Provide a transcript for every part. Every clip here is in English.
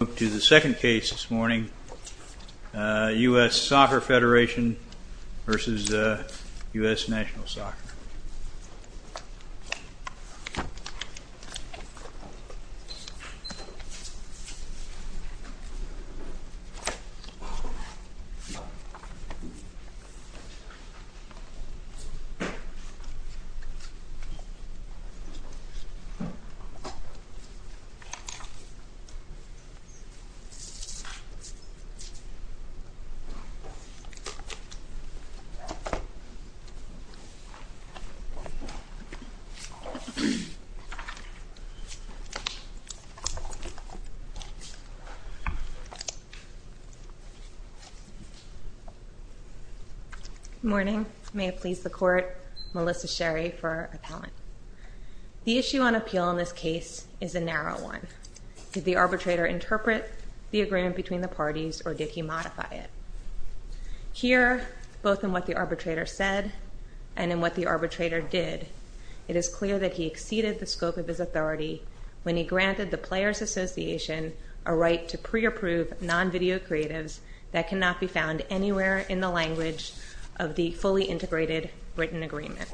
United States Soccer Federatio v. United States National Soccer Good morning. May it please the court, Melissa Sherry for appellant. The issue on appeal in this case is a narrow one. Did the arbitrator interpret the agreement between the parties or did he modify it? Here, both in what the arbitrator said and in what the arbitrator did, it is clear that he exceeded the scope of his authority when he granted the Players Association a right to pre-approve non-video creatives that cannot be found anywhere in the language of the fully integrated written agreement.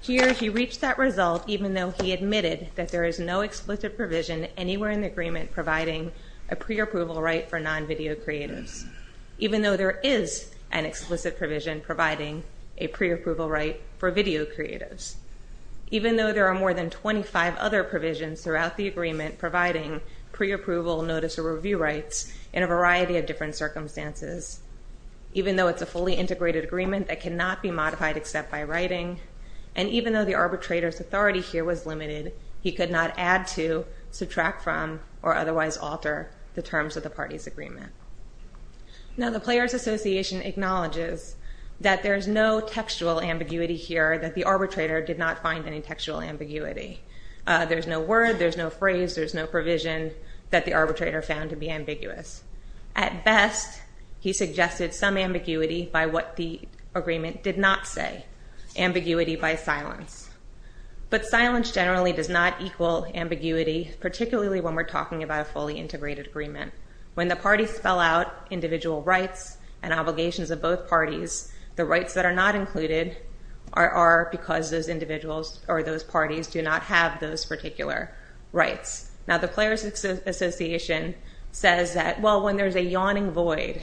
Here, he reached that result even though he admitted that there is no explicit provision anywhere in the agreement providing a pre-approval right for non-video creatives, even though there is an explicit provision providing a pre-approval right for video creatives, even though there are more than 25 other provisions throughout the agreement providing pre-approval notice or review rights in a variety of different circumstances, even though it's a fully integrated agreement that cannot be modified except by writing, and even though the arbitrator's authority here was limited, he could not add to, subtract from, or otherwise alter the terms of the parties' agreement. Now the Players Association acknowledges that there is no textual ambiguity here, that the arbitrator did not find any textual ambiguity. There's no word, there's no phrase, there's no provision that the arbitrator found to be ambiguous. At best, he suggested some ambiguity by what the agreement did not say, ambiguity by silence. But silence generally does not equal ambiguity, particularly when we're talking about a fully integrated agreement. When the parties spell out individual rights and obligations of both parties, the rights that are not included are because those individuals or those parties do not have those particular rights. Now the Players Association says that, well, when there's a yawning void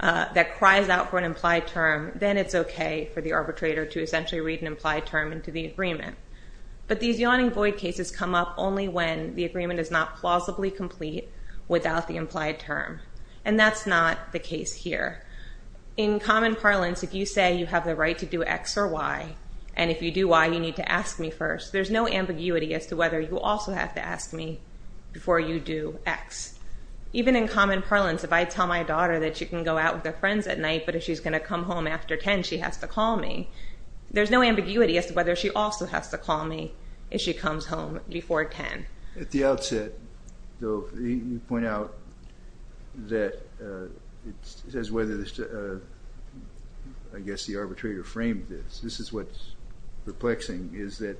that cries out for an implied term, then it's okay for the arbitrator to essentially read an implied term into the agreement. But these yawning void cases come up only when the agreement is not plausibly complete without the implied term, and that's not the case here. In common parlance, if you say you have the right to do X or Y, and if you do Y, you need to ask me first, there's no ambiguity as to whether you also have to ask me before you do X. Even in common parlance, if I tell my daughter that she can go out with her friends at night, but if she's going to come home after 10, she has to call me. There's no ambiguity as to whether she also has to call me if she comes home before 10. At the outset, though, you point out that it says whether, I guess the arbitrator framed this. This is what's perplexing, is that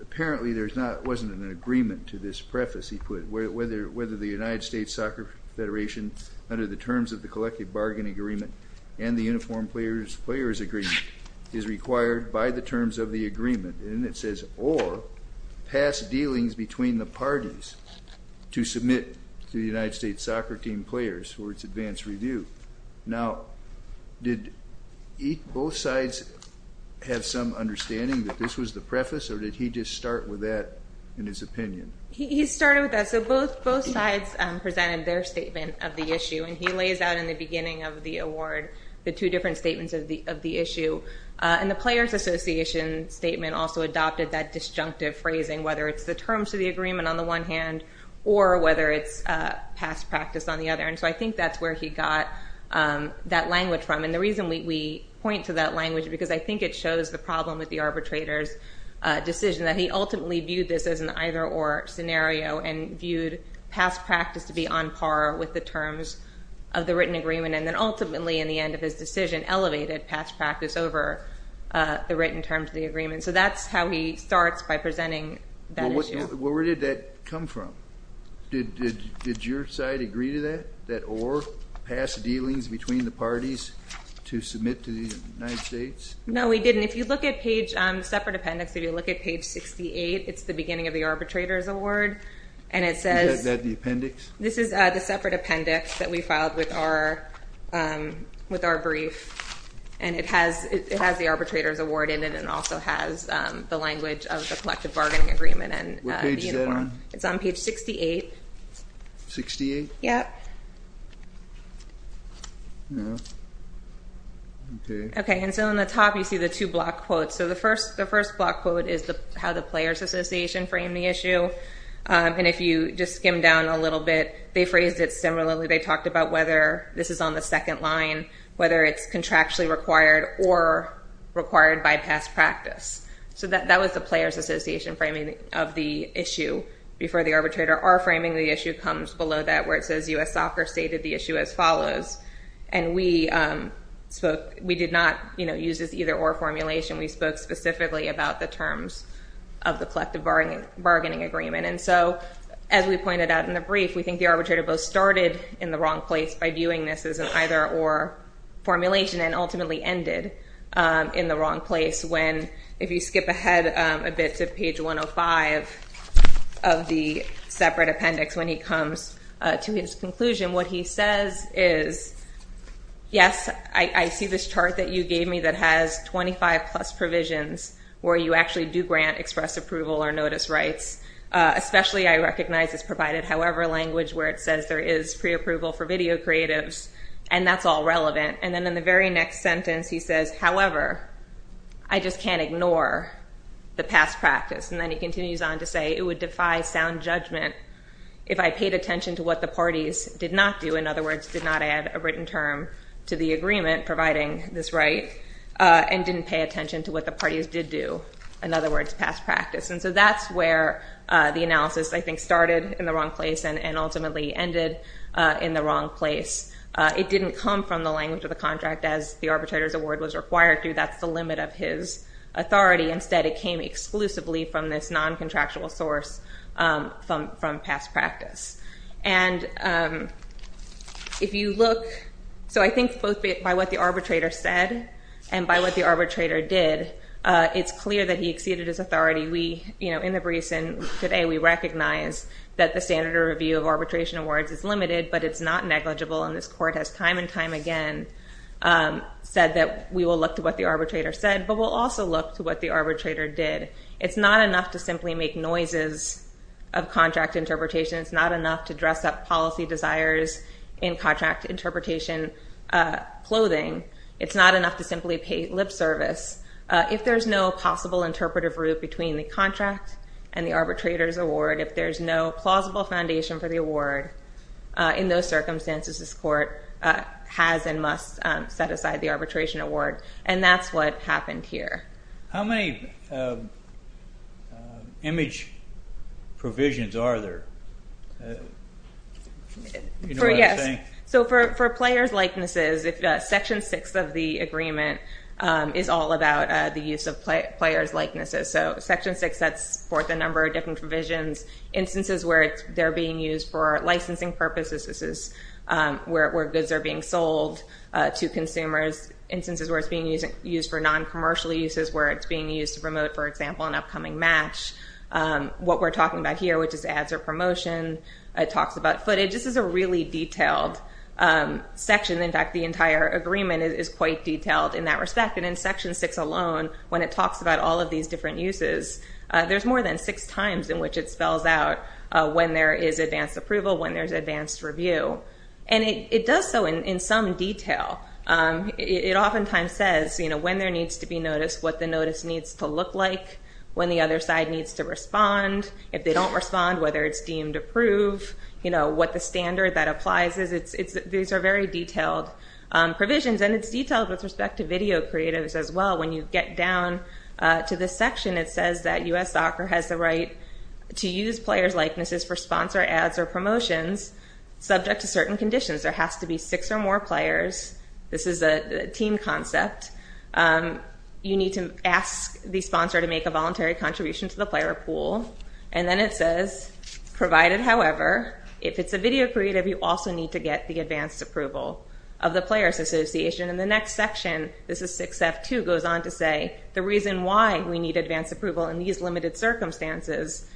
apparently there wasn't an agreement to this preface he put, whether the United States Soccer Federation, under the terms of the collective bargain agreement and the uniformed players' agreement, is required by the terms of the agreement, and it says, or pass dealings between the parties to submit to the United States soccer team players for its advanced review. Now, did both sides have some understanding that this was the preface, or did he just start with that in his opinion? He started with that, so both sides presented their statement of the issue, and he lays out in the beginning of the award the two different statements of the issue, and the players' association statement also adopted that disjunctive phrasing, whether it's the terms of the agreement on the one hand, or whether it's past practice on the other, and so I think that's where he got that language from, and the reason we point to that language, because I think it shows the problem with the arbitrator's decision, that he ultimately viewed this as an either-or scenario, and viewed past practice to be on par with the terms of the written agreement, and then ultimately in the end of his decision, elevated past practice over the written terms of the agreement, so that's how he starts by presenting that issue. Well, where did that come from? Did your side agree to that, that or pass dealings between the parties to submit to the United States? No, we didn't. If you look at page, separate appendix, if you look at page 68, it's the beginning of the arbitrator's award, and it says... Is that the appendix? This is the separate appendix that we filed with our brief, and it has the arbitrator's award in it, and it also has the language of the collective bargaining agreement and the uniform. What page is that on? It's on page 68. 68? Yeah. Okay. Okay, and so on the top, you see the two block quotes, so the first block quote is how the players' association framed the issue, and if you just skim down a little bit, they phrased it similarly. They talked about whether this is on the second line, whether it's contractually required or required by past practice, so that was the players' association framing of the issue before the arbitrator. Our framing of the issue comes below that, where it says U.S. Soccer stated the issue as follows, and we did not use this either-or formulation. We spoke specifically about the terms of the collective bargaining agreement, and so, as we pointed out in the brief, we think the arbitrator both started in the wrong place by viewing this as an either-or formulation and ultimately ended in the wrong place when, if you skip ahead a bit to page 105 of the separate appendix when he comes to his conclusion, what he says is, yes, I see this chart that you gave me that has 25-plus provisions where you actually do grant express approval or notice rights, especially I recognize it's provided however language where it says there is preapproval for video creatives, and that's all relevant, and then in the very next sentence, he says, however, I just can't ignore the past practice, and then he continues on to say it would defy sound judgment if I paid attention to what the parties did not do, in other words, did not add a written term to the agreement providing this right, and didn't pay attention to what the parties did do, in other words, past practice, and so that's where the analysis, I think, started in the wrong place and ultimately ended in the wrong place. It didn't come from the language of the contract as the arbitrator's award was required to. That's the limit of his authority. Instead, it came exclusively from this non-contractual source from past practice, and if you look, so I think both by what the arbitrator said and by what the arbitrator did, it's clear that he exceeded his authority. We, you know, in the briefs and today, we recognize that the standard of review of arbitration awards is limited, but it's not negligible, and this Court has time and time again said that we will look to what the arbitrator said, but we'll also look to what the arbitrator did. It's not enough to simply make noises of contract interpretation. It's not enough to dress up policy desires in contract interpretation clothing. It's not enough to simply pay lip service. If there's no possible interpretive route between the contract and the arbitrator's award, if there's no plausible foundation for the award, in those circumstances, this Court has and must set aside the arbitration award, and that's what happened here. How many image provisions are there? You know what I'm saying? So for player's likenesses, Section 6 of the agreement is all about the use of player's likenesses, so Section 6, that's for the number of different provisions, instances where they're being used for licensing purposes, this is where goods are being sold to consumers, instances where it's being used for non-commercial uses, where it's being used to promote, for example, an upcoming match, what we're talking about here, which is ads or promotion, it talks about footage. This is a really detailed section. In fact, the entire agreement is quite detailed in that respect, and in Section 6 alone, when it talks about all of these different uses, there's more than six times in which it spells out when there is advanced approval, when there's advanced review, and it does so in some detail. It oftentimes says, you know, when there needs to be notice, what the notice needs to look like, when the other side needs to respond. If they don't respond, whether it's deemed approved, you know, what the standard that applies is, these are very detailed provisions, and it's detailed with respect to video creatives as well. When you get down to this section, it says that U.S. Soccer has the right to use player's likenesses for sponsor ads or promotions subject to certain conditions. There has to be six or more players. This is a team concept. You need to ask the sponsor to make a voluntary contribution to the player pool, and then it says, provided, however, if it's a video creative, you also need to get the advanced approval of the players' association. In the next section, this is 6F2, goes on to say, the reason why we need advanced approval in these limited circumstances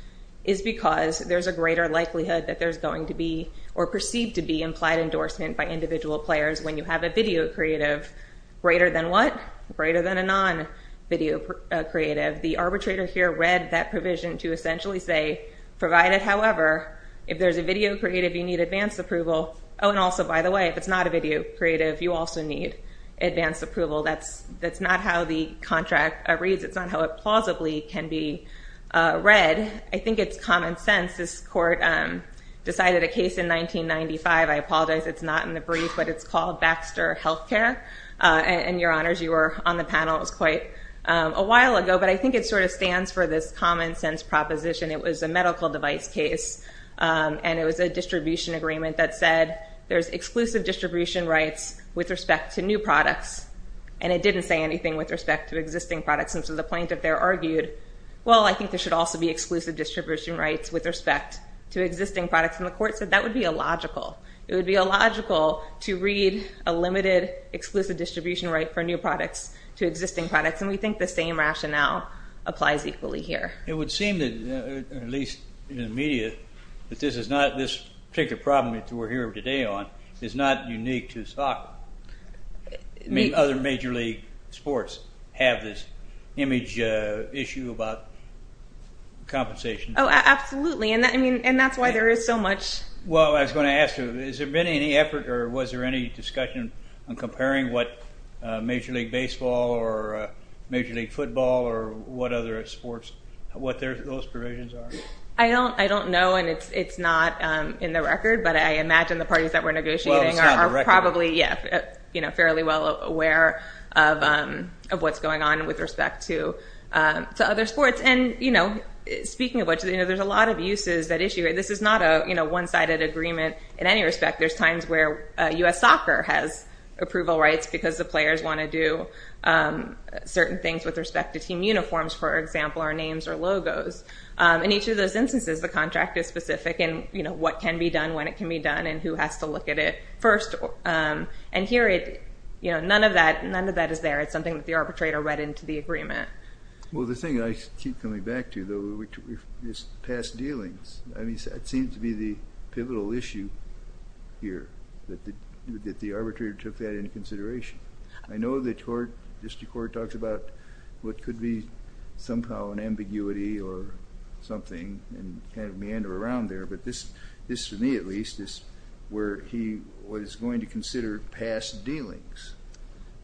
is because there's a greater likelihood that there's going to be, or perceived to be, implied endorsement by individual players when you have a video creative greater than what? Greater than a non-video creative. The arbitrator here read that provision to essentially say, provided, however, if there's a video creative, you need advanced approval. Oh, and also, by the way, if it's not a video creative, you also need advanced approval. That's not how the contract reads. It's not how it plausibly can be read. I think it's common sense. This court decided a case in 1995. I apologize, it's not in the brief, but it's called Baxter Healthcare, and your honors, you were on the panel. It was quite a while ago, but I think it sort of stands for this common sense proposition. It was a medical device case, and it was a distribution agreement that said there's exclusive distribution rights with respect to new products, and it didn't say anything with respect to existing products, and so the plaintiff there argued, well, I think there should also be exclusive distribution rights with respect to existing products, and the court said that would be illogical. It would be illogical to read a limited, exclusive distribution right for new products to existing products, and we think the same rationale applies equally here. It would seem that, at least in the media, that this particular problem that we're here today on is not unique to soccer. Other major league sports have this image issue about compensation. Oh, absolutely, and that's why there is so much... Well, I was going to ask you, has there been any effort or was there any discussion on comparing what major league baseball or major league football or what other sports, what those provisions are? I don't know, and it's not in the record, but I imagine the parties that we're negotiating are probably, yeah, fairly well aware of what's going on with respect to other sports, and speaking of which, there's a lot of uses that issue it. This is not a one-sided agreement in any respect. There's times where U.S. soccer has approval rights because the players want to do certain things with respect to team uniforms, for example, or names or logos. In each of those instances, the contract is specific in what can be done, when it can be done, and who has to look at it first, and here, none of that is there. It's something that the arbitrator read into the agreement. Well, the thing I keep coming back to, though, is past dealings. I mean, that seems to be the pivotal issue here, that the arbitrator took that into consideration. I know that the district court talks about what could be somehow an ambiguity or something and kind of meander around there, but this, for me at least, is where he was going to consider past dealings.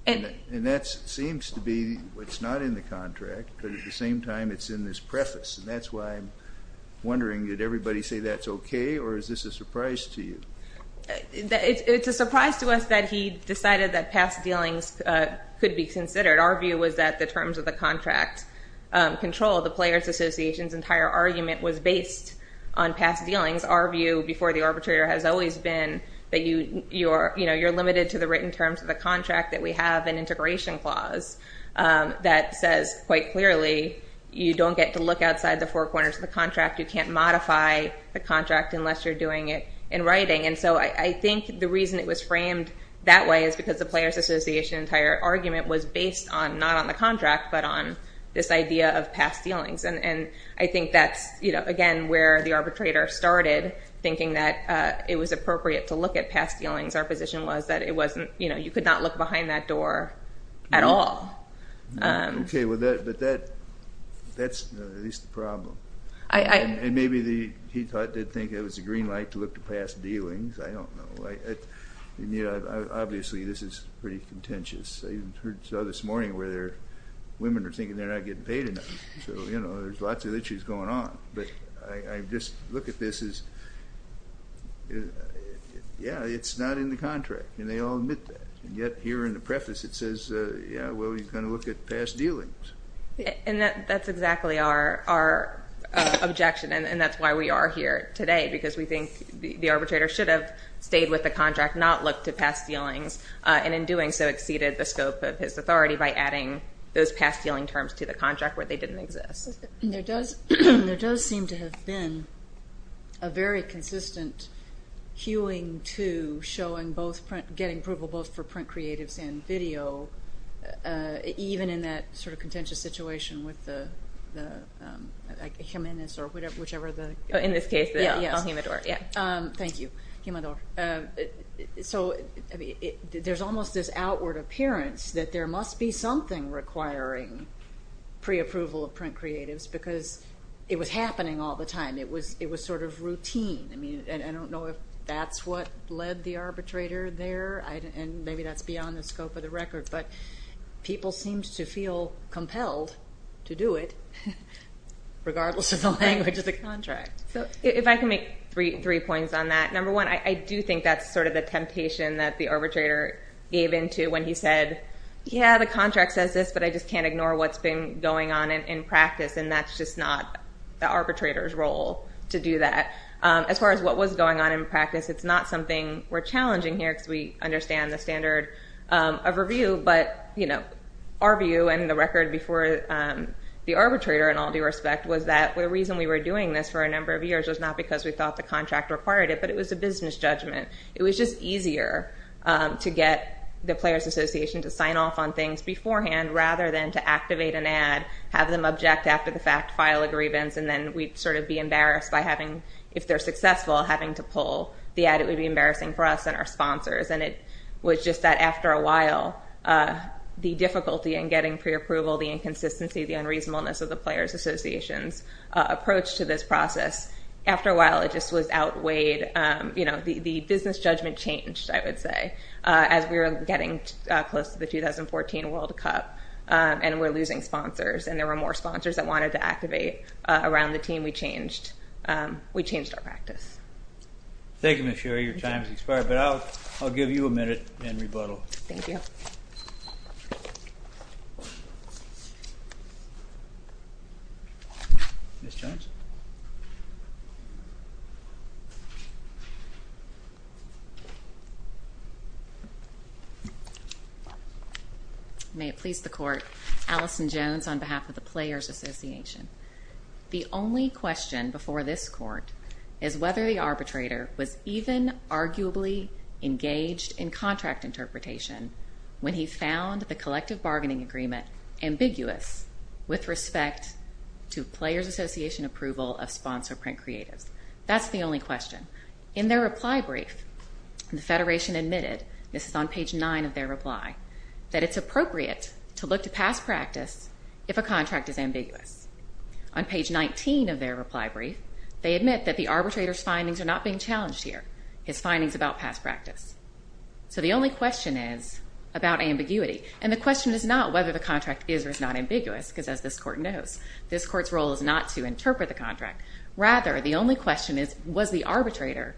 And that seems to be what's not in the contract, but at the same time, it's in this preface, and that's why I'm wondering, did everybody say that's okay, or is this a surprise to you? It's a surprise to us that he decided that past dealings could be considered. Our view was that the terms of the contract control the Players Association's entire argument was based on past dealings. Our view before the arbitrator has always been that you're limited to the written terms of the contract, that we have an integration clause that says quite clearly, you don't get to look outside the four corners of the contract, you can't modify the contract unless you're doing it in writing. And so I think the reason it was framed that way is because the Players Association's entire argument was based on, not on the contract, but on this idea of past dealings. And I think that's, again, where the arbitrator started, thinking that it was appropriate to look at past dealings. Our position was that it wasn't, you know, you could not look behind that door at all. Okay, but that's at least the problem. And maybe he thought, did think it was a green light to look to past dealings, I don't know. Obviously this is pretty contentious, I even heard this morning where women are thinking they're not getting paid enough, so you know, there's lots of issues going on, but I just look at this as, yeah, it's not in the contract, and they all admit that. And yet here in the preface it says, yeah, well, he's going to look at past dealings. And that's exactly our objection, and that's why we are here today, because we think the arbitrator should have stayed with the contract, not looked at past dealings, and in doing so exceeded the scope of his authority by adding those past dealing terms to the contract where they didn't exist. There does seem to have been a very consistent hewing to showing both print, getting approval both for print creatives and video, even in that sort of contentious situation with the, like Jimenez or whichever the... In this case, El Jimedor, yeah. Thank you, Jimedor. So there's almost this outward appearance that there must be something requiring pre-approval of print creatives, because it was happening all the time. It was sort of routine. I mean, I don't know if that's what led the arbitrator there, and maybe that's beyond the scope of the record, but people seemed to feel compelled to do it, regardless of the language of the contract. If I can make three points on that, number one, I do think that's sort of the temptation that the arbitrator gave into when he said, yeah, the contract says this, but I just can't see what was going on in practice, and that's just not the arbitrator's role to do that. As far as what was going on in practice, it's not something we're challenging here, because we understand the standard of review, but our view and the record before the arbitrator in all due respect was that the reason we were doing this for a number of years was not because we thought the contract required it, but it was a business judgment. It was just easier to get the Players Association to sign off on things beforehand rather than to activate an ad, have them object after the fact, file a grievance, and then we'd sort of be embarrassed by having, if they're successful, having to pull the ad. It would be embarrassing for us and our sponsors, and it was just that after a while, the difficulty in getting pre-approval, the inconsistency, the unreasonableness of the Players Association's approach to this process, after a while, it just was outweighed. The business judgment changed, I would say, as we were getting close to the 2014 World Cup, and we're losing sponsors, and there were more sponsors that wanted to activate around the team. We changed our practice. Thank you, Ms. Shearer. Your time has expired, but I'll give you a minute and rebuttal. Thank you. Ms. Jones? May it please the Court, Alison Jones on behalf of the Players Association. The only question before this Court is whether the arbitrator was even arguably engaged in contract interpretation when he found the collective bargaining agreement ambiguous with respect to Players Association approval of sponsor print creatives. That's the only question. In their reply brief, the Federation admitted, this is on page 9 of their reply, that it's appropriate to look to past practice if a contract is ambiguous. On page 19 of their reply brief, they admit that the arbitrator's findings are not being challenged here, his findings about past practice. So the only question is about ambiguity, and the question is not whether the contract is or is not ambiguous, because as this Court knows, this Court's role is not to interpret the contract. Rather, the only question is, was the arbitrator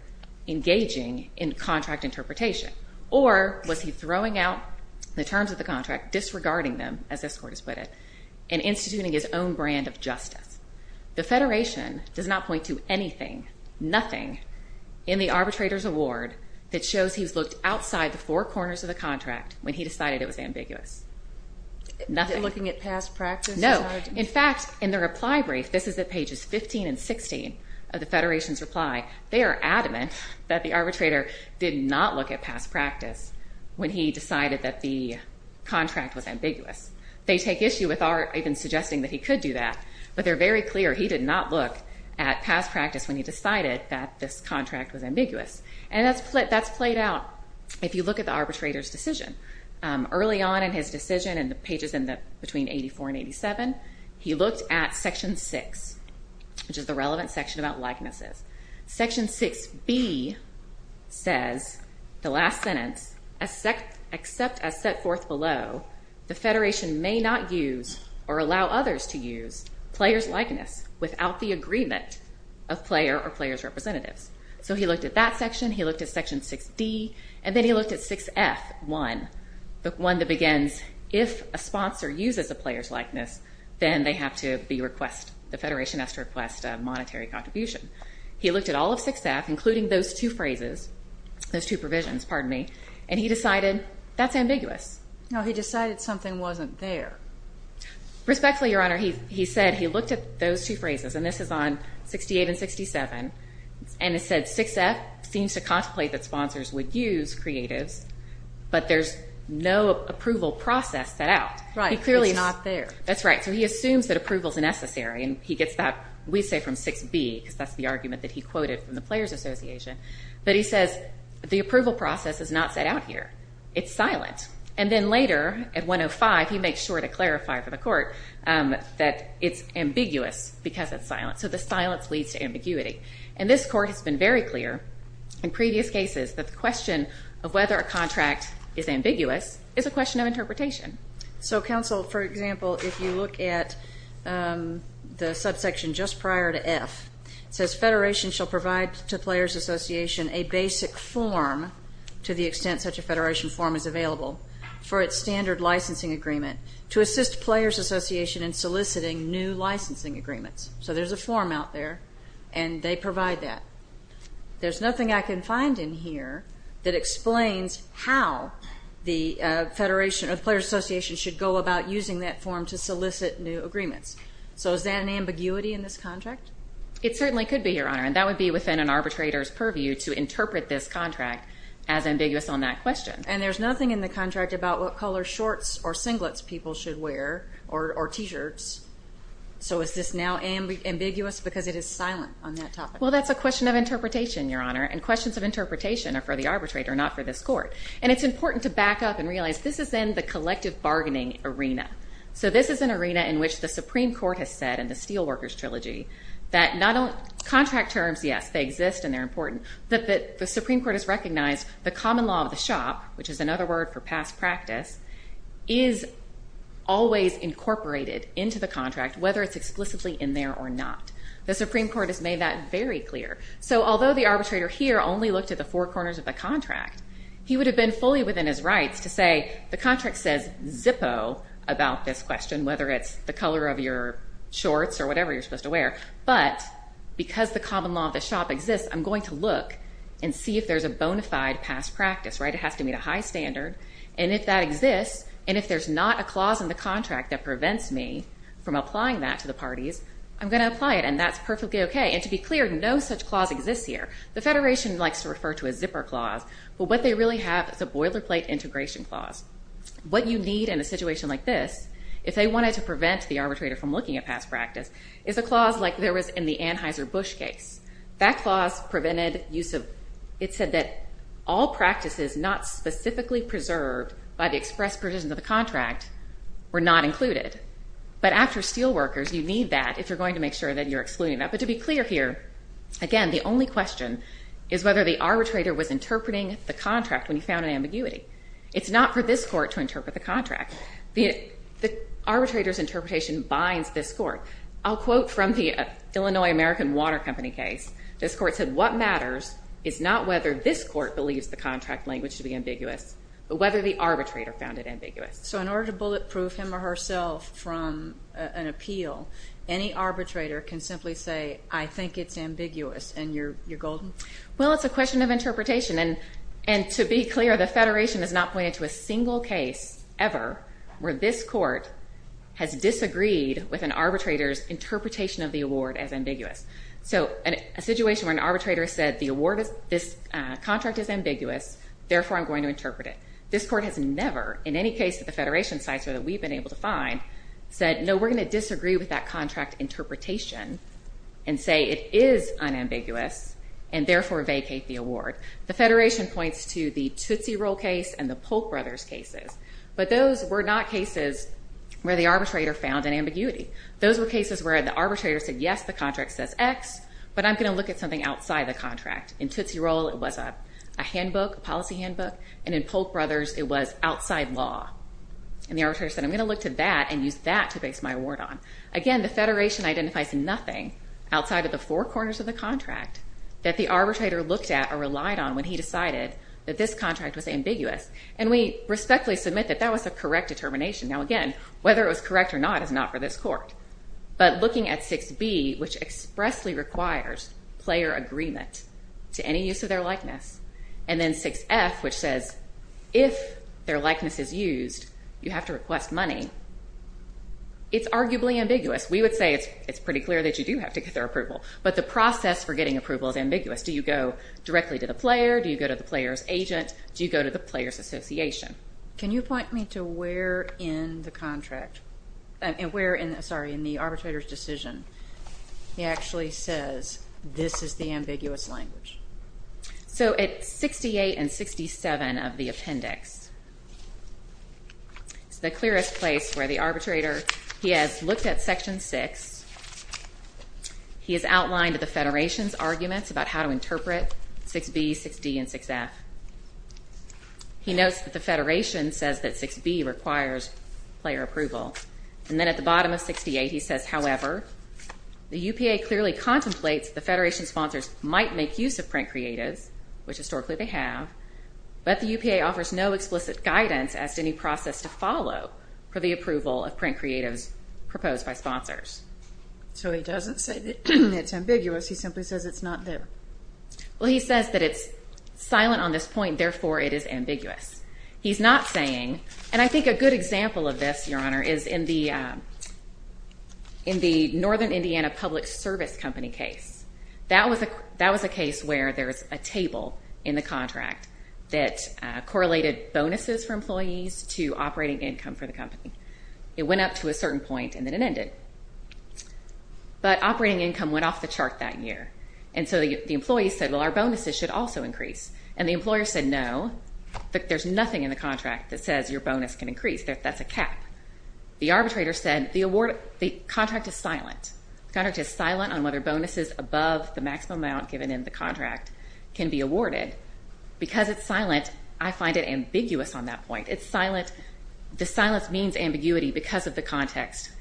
engaging in contract interpretation, or was he throwing out the terms of the contract, disregarding them, as this Court has put it, and instituting his own brand of justice? The Federation does not point to anything, nothing, in the arbitrator's award that shows he's looked outside the four corners of the contract when he decided it was ambiguous. Nothing. Looking at past practice? No. In fact, in their reply brief, this is at pages 15 and 16 of the Federation's reply, they are adamant that the arbitrator did not look at past practice when he decided that the contract was ambiguous. They take issue with Art even suggesting that he could do that, but they're very clear he did not look at past practice when he decided that this contract was ambiguous. And that's played out if you look at the arbitrator's decision. Early on in his decision, in the pages between 84 and 87, he looked at Section 6, which is the relevant section about likenesses. Section 6B says, the last sentence, except as set forth below, the Federation may not use or allow others to use player's likeness without the agreement of player or player's representatives. So he looked at that section, he looked at Section 6D, and then he looked at 6F1, the one that begins, if a sponsor uses a player's likeness, then they have to be requested, the Federation has to request a monetary contribution. He looked at all of 6F, including those two phrases, those two provisions, pardon me, and he decided that's ambiguous. No, he decided something wasn't there. Respectfully, Your Honor, he said he looked at those two phrases, and this is on 68 and 67, and it said 6F seems to contemplate that sponsors would use creatives, but there's no approval process set out. Right. It's clearly not there. That's right. So he assumes that approval's necessary, and he gets that, we say, from 6B, because that's the argument that he quoted from the Players Association, but he says the approval process is not set out here. It's silent. And then later, at 105, he makes sure to clarify for the court that it's ambiguous because it's silent. So the silence leads to ambiguity. And this court has been very clear in previous cases that the question of whether a contract is ambiguous is a question of interpretation. So counsel, for example, if you look at the subsection just prior to F, it says Federation shall provide to Players Association a basic form, to the extent such a Federation form is available, for its standard licensing agreement to assist Players Association in soliciting new licensing agreements. So there's a form out there, and they provide that. There's nothing I can find in here that explains how the Federation or the Players Association should go about using that form to solicit new agreements. So is that an ambiguity in this contract? It certainly could be, Your Honor, and that would be within an arbitrator's purview to interpret this contract as ambiguous on that question. And there's nothing in the contract about what color shorts or singlets people should wear or T-shirts. So is this now ambiguous because it is silent on that topic? Well, that's a question of interpretation, Your Honor, and questions of interpretation are for the arbitrator, not for this court. And it's important to back up and realize this is in the collective bargaining arena. So this is an arena in which the Supreme Court has said in the Steelworkers Trilogy that not only contract terms, yes, they exist and they're important, but the Supreme Court has recognized the common law of the shop, which is another word for past practice, is always incorporated into the contract, whether it's explicitly in there or not. The Supreme Court has made that very clear. So although the arbitrator here only looked at the four corners of the contract, he would have been fully within his rights to say the contract says Zippo about this question, whether it's the color of your shorts or whatever you're supposed to wear. But because the common law of the shop exists, I'm going to look and see if there's a bonafide past practice, right? It has to meet a high standard. And if that exists, and if there's not a clause in the contract that prevents me from applying that to the parties, I'm going to apply it. And that's perfectly OK. And to be clear, no such clause exists here. The Federation likes to refer to a zipper clause, but what they really have is a boilerplate integration clause. What you need in a situation like this, if they wanted to prevent the arbitrator from looking at past practice, is a clause like there was in the Anheuser-Busch case. That clause prevented use of, it said that all practices not specifically preserved by the express provisions of the contract were not included. But after steelworkers, you need that if you're going to make sure that you're excluding that. But to be clear here, again, the only question is whether the arbitrator was interpreting the contract when he found an ambiguity. It's not for this court to interpret the contract. The arbitrator's interpretation binds this court. I'll quote from the Illinois American Water Company case. This court said, what matters is not whether this court believes the contract language to be ambiguous, but whether the arbitrator found it ambiguous. So in order to bulletproof him or herself from an appeal, any arbitrator can simply say, I think it's ambiguous. And you're golden? Well, it's a question of interpretation. And to be clear, the Federation has not pointed to a single case ever where this court has seen an arbitrator's interpretation of the award as ambiguous. So a situation where an arbitrator said, this contract is ambiguous, therefore I'm going to interpret it. This court has never, in any case at the Federation sites or that we've been able to find, said, no, we're going to disagree with that contract interpretation and say it is unambiguous, and therefore vacate the award. The Federation points to the Tootsie Roll case and the Polk Brothers cases. But those were not cases where the arbitrator found an ambiguity. Those were cases where the arbitrator said, yes, the contract says X, but I'm going to look at something outside the contract. In Tootsie Roll, it was a handbook, a policy handbook, and in Polk Brothers, it was outside law. And the arbitrator said, I'm going to look to that and use that to base my award on. Again, the Federation identifies nothing outside of the four corners of the contract that the arbitrator looked at or relied on when he decided that this contract was ambiguous. And we respectfully submit that that was a correct determination. Now, again, whether it was correct or not is not for this court. But looking at 6b, which expressly requires player agreement to any use of their likeness, and then 6f, which says if their likeness is used, you have to request money, it's arguably ambiguous. We would say it's pretty clear that you do have to get their approval. But the process for getting approval is ambiguous. Do you go directly to the player? Do you go to the player's agent? Do you go to the player's association? Can you point me to where in the contract, sorry, in the arbitrator's decision, he actually says this is the ambiguous language? So at 68 and 67 of the appendix, it's the clearest place where the arbitrator, he has looked at Section 6. He has outlined the Federation's arguments about how to interpret 6b, 6d, and 6f. He notes that the Federation says that 6b requires player approval. And then at the bottom of 68, he says, however, the UPA clearly contemplates the Federation sponsors might make use of print creatives, which historically they have, but the UPA offers no explicit guidance as to any process to follow for the approval of print creatives proposed by sponsors. So he doesn't say that it's ambiguous. He simply says it's not there. Well, he says that it's silent on this point, therefore it is ambiguous. He's not saying, and I think a good example of this, Your Honor, is in the Northern Indiana Public Service Company case. That was a case where there's a table in the contract that correlated bonuses for employees to operating income for the company. It went up to a certain point, and then it ended. But operating income went off the chart that year. And so the employees said, well, our bonuses should also increase. And the employer said, no, there's nothing in the contract that says your bonus can increase. That's a cap. The arbitrator said the contract is silent. The contract is silent on whether bonuses above the maximum amount given in the contract can be awarded. Because it's silent, I find it ambiguous on that point. It's silent. The silence means ambiguity because of the context.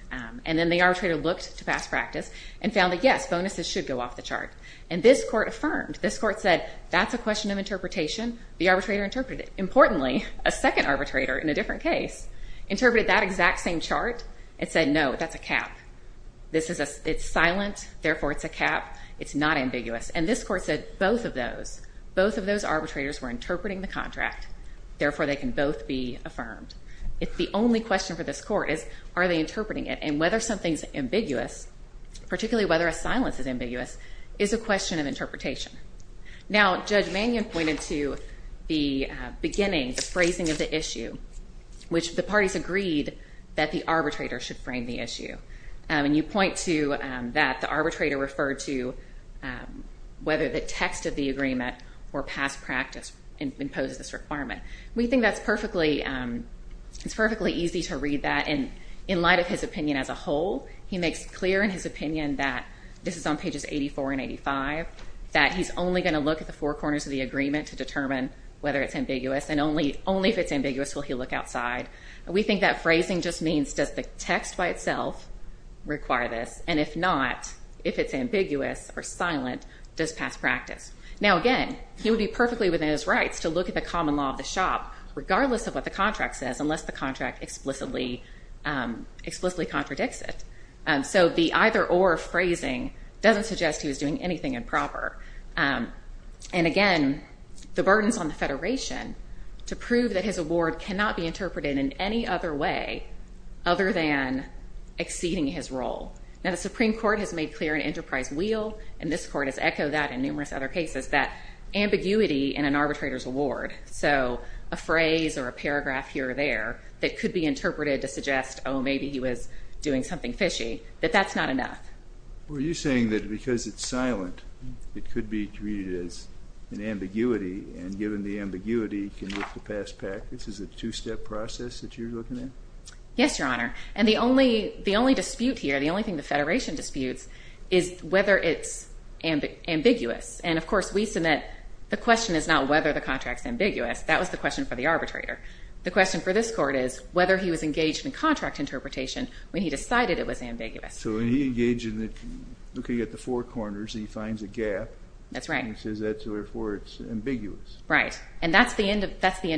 And then the arbitrator looked to past practice and found that, yes, bonuses should go off the chart. And this court affirmed. This court said, that's a question of interpretation. The arbitrator interpreted it. Importantly, a second arbitrator in a different case interpreted that exact same chart and said, no, that's a cap. This is a, it's silent, therefore it's a cap. It's not ambiguous. And this court said both of those, both of those arbitrators were interpreting the contract, therefore they can both be affirmed. It's the only question for this court is, are they interpreting it? And whether something's ambiguous, particularly whether a silence is ambiguous, is a question of interpretation. Now, Judge Mannion pointed to the beginning, the phrasing of the issue, which the parties agreed that the arbitrator should frame the issue. And you point to that the arbitrator referred to whether the text of the agreement or past practice imposes this requirement. We think that's perfectly, it's perfectly easy to read that. And in light of his opinion as a whole, he makes clear in his opinion that, this is on pages 84 and 85, that he's only going to look at the four corners of the agreement to determine whether it's ambiguous. And only, only if it's ambiguous will he look outside. We think that phrasing just means, does the text by itself require this? And if not, if it's ambiguous or silent, does past practice? Now again, he would be perfectly within his rights to look at the common law of the shop, regardless of what the contract says, unless the contract explicitly, explicitly contradicts it. So the either or phrasing doesn't suggest he was doing anything improper. And again, the burdens on the Federation to prove that his award cannot be interpreted in any other way, other than exceeding his role. Now, the Supreme Court has made clear an enterprise wheel, and this court has echoed that in numerous other cases, that ambiguity in an arbitrator's award, so a phrase or a paragraph here or there, that could be interpreted to suggest, oh, maybe he was doing something fishy, that that's not enough. Were you saying that because it's silent, it could be treated as an ambiguity, and given the ambiguity, can look to pass practice? Is it a two-step process that you're looking at? Yes, Your Honor. And the only, the only dispute here, the only thing the Federation disputes, is whether it's ambiguous. And of course, we submit, the question is not whether the contract's ambiguous, that was the question for the arbitrator. The question for this court is whether he was engaged in contract interpretation when he decided it was ambiguous. So when he engaged in it, looking at the four corners, he finds a gap. That's right. And he says that's where it's ambiguous. Right. And that's the end of it. That's the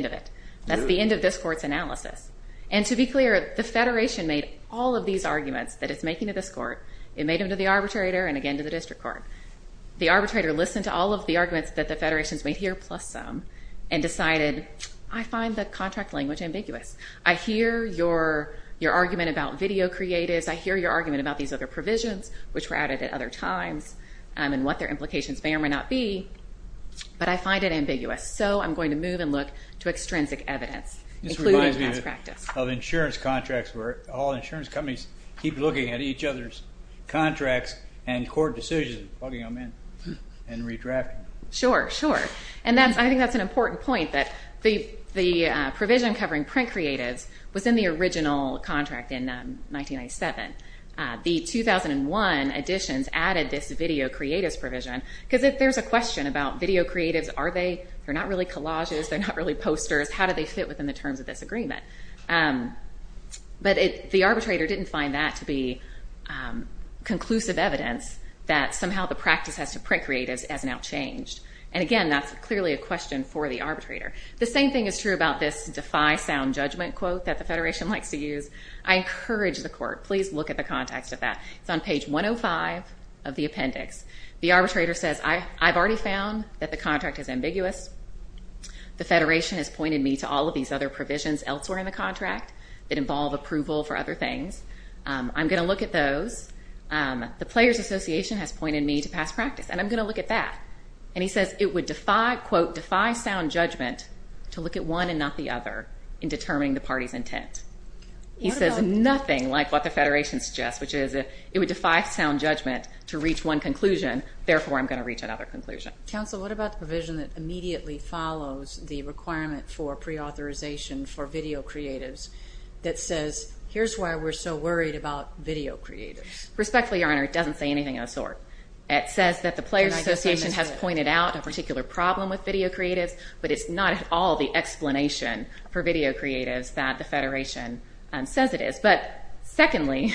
end of this court's analysis. And to be clear, the Federation made all of these arguments that it's making to this court, it made them to the arbitrator, and again to the district court. The arbitrator listened to all of the arguments that the Federation's made here, plus some, and decided, I find the contract language ambiguous. I hear your argument about video creatives, I hear your argument about these other provisions, which were added at other times, and what their implications may or may not be, but I find it ambiguous. So I'm going to move and look to extrinsic evidence, including pass practice. This reminds me of insurance contracts, where all insurance companies keep looking at each other's contracts and court decisions, plugging them in and redrafting them. Sure, sure. And I think that's an important point, that the provision covering print creatives was in the original contract in 1997. The 2001 additions added this video creatives provision, because there's a question about video creatives, are they, they're not really collages, they're not really posters, how do they fit within the terms of this agreement? But the arbitrator didn't find that to be conclusive evidence that somehow the practice has to print creatives as an outchanged. And again, that's clearly a question for the arbitrator. The same thing is true about this defy sound judgment quote that the Federation likes to use. I encourage the court, please look at the context of that. It's on page 105 of the appendix. The arbitrator says, I've already found that the contract is ambiguous. The Federation has pointed me to all of these other provisions elsewhere in the contract that involve approval for other things. I'm going to look at those. The Players Association has pointed me to past practice, and I'm going to look at that. And he says it would defy, quote, defy sound judgment to look at one and not the other in determining the party's intent. He says nothing like what the Federation suggests, which is it would defy sound judgment to reach one conclusion, therefore I'm going to reach another conclusion. Counsel, what about the provision that immediately follows the requirement for preauthorization for video creatives that says, here's why we're so worried about video creatives? Respectfully, Your Honor, it doesn't say anything of the sort. It says that the Players Association has pointed out a particular problem with video creatives, but it's not at all the explanation for video creatives that the Federation says it is. But secondly,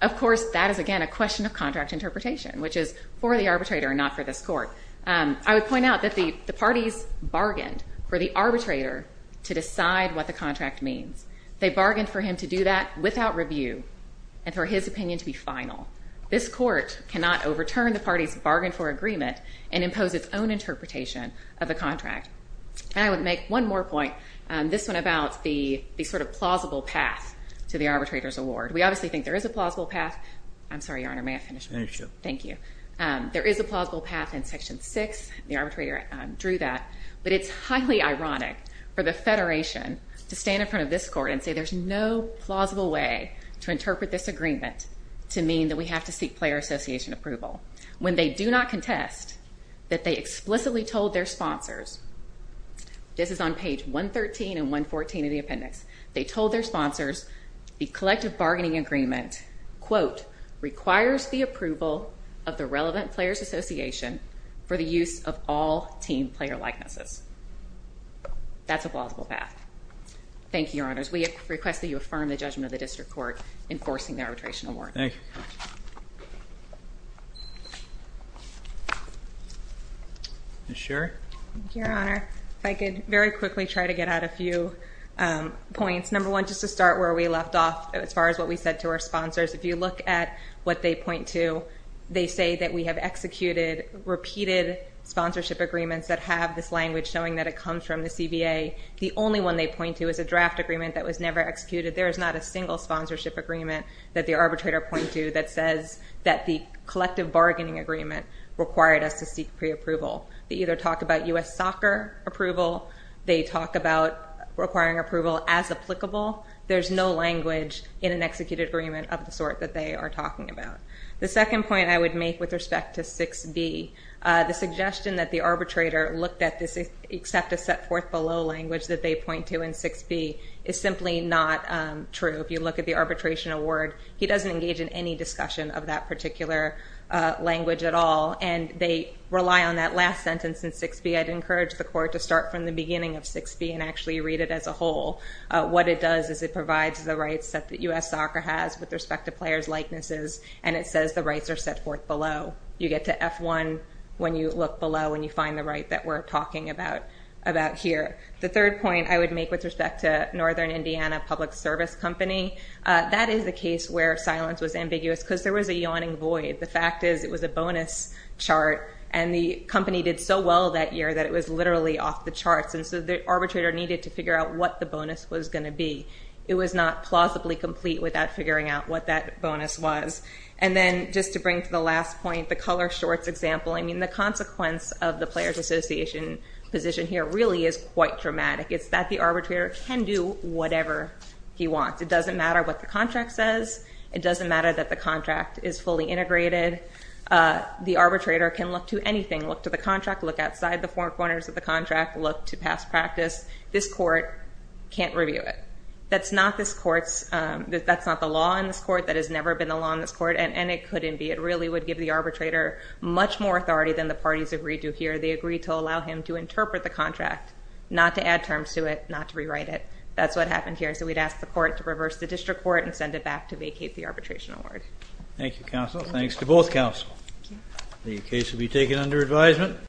of course, that is again a question of contract interpretation, which is for the I would point out that the parties bargained for the arbitrator to decide what the contract means. They bargained for him to do that without review and for his opinion to be final. This Court cannot overturn the party's bargain for agreement and impose its own interpretation of the contract. And I would make one more point, this one about the sort of plausible path to the arbitrator's award. We obviously think there is a plausible path. I'm sorry, Your Honor, may I finish? Finish, yeah. Thank you. There is a plausible path in Section 6, and the arbitrator drew that, but it's highly ironic for the Federation to stand in front of this Court and say there's no plausible way to interpret this agreement to mean that we have to seek Players Association approval when they do not contest that they explicitly told their sponsors. This is on page 113 and 114 of the appendix. They told their sponsors the collective bargaining agreement, quote, requires the approval of the relevant Players Association for the use of all team player likenesses. That's a plausible path. Thank you, Your Honors. We request that you affirm the judgment of the District Court enforcing the arbitration award. Thank you. Ms. Sherry? Thank you, Your Honor. If I could very quickly try to get out a few points. Number one, just to start where we left off as far as what we said to our sponsors, if you look at what they point to, they say that we have executed repeated sponsorship agreements that have this language showing that it comes from the CBA. The only one they point to is a draft agreement that was never executed. There is not a single sponsorship agreement that the arbitrator points to that says that the collective bargaining agreement required us to seek preapproval. They either talk about U.S. soccer approval. They talk about requiring approval as applicable. There's no language in an executed agreement of the sort that they are talking about. The second point I would make with respect to 6B, the suggestion that the arbitrator looked at this except a set forth below language that they point to in 6B is simply not true. If you look at the arbitration award, he doesn't engage in any discussion of that particular language at all, and they rely on that last sentence in 6B. I'd encourage the Court to start from the beginning of 6B and actually read it as a provides the rights that the U.S. soccer has with respect to players' likenesses, and it says the rights are set forth below. You get to F1 when you look below and you find the right that we're talking about here. The third point I would make with respect to Northern Indiana Public Service Company, that is a case where silence was ambiguous because there was a yawning void. The fact is it was a bonus chart, and the company did so well that year that it was literally off the charts, and so the arbitrator needed to figure out what the bonus was going to be. It was not plausibly complete without figuring out what that bonus was. And then just to bring to the last point, the color shorts example, I mean, the consequence of the players' association position here really is quite dramatic. It's that the arbitrator can do whatever he wants. It doesn't matter what the contract says. It doesn't matter that the contract is fully integrated. The arbitrator can look to anything, look to the contract, look outside the four corners of the contract, look to past practice. This court can't review it. That's not this court's, that's not the law in this court. That has never been the law in this court, and it couldn't be. It really would give the arbitrator much more authority than the parties agreed to here. They agreed to allow him to interpret the contract, not to add terms to it, not to rewrite it. That's what happened here. So we'd ask the court to reverse the district court and send it back to vacate the arbitration award. Thank you, counsel. Thanks to both counsel. The case will be taken under advisement.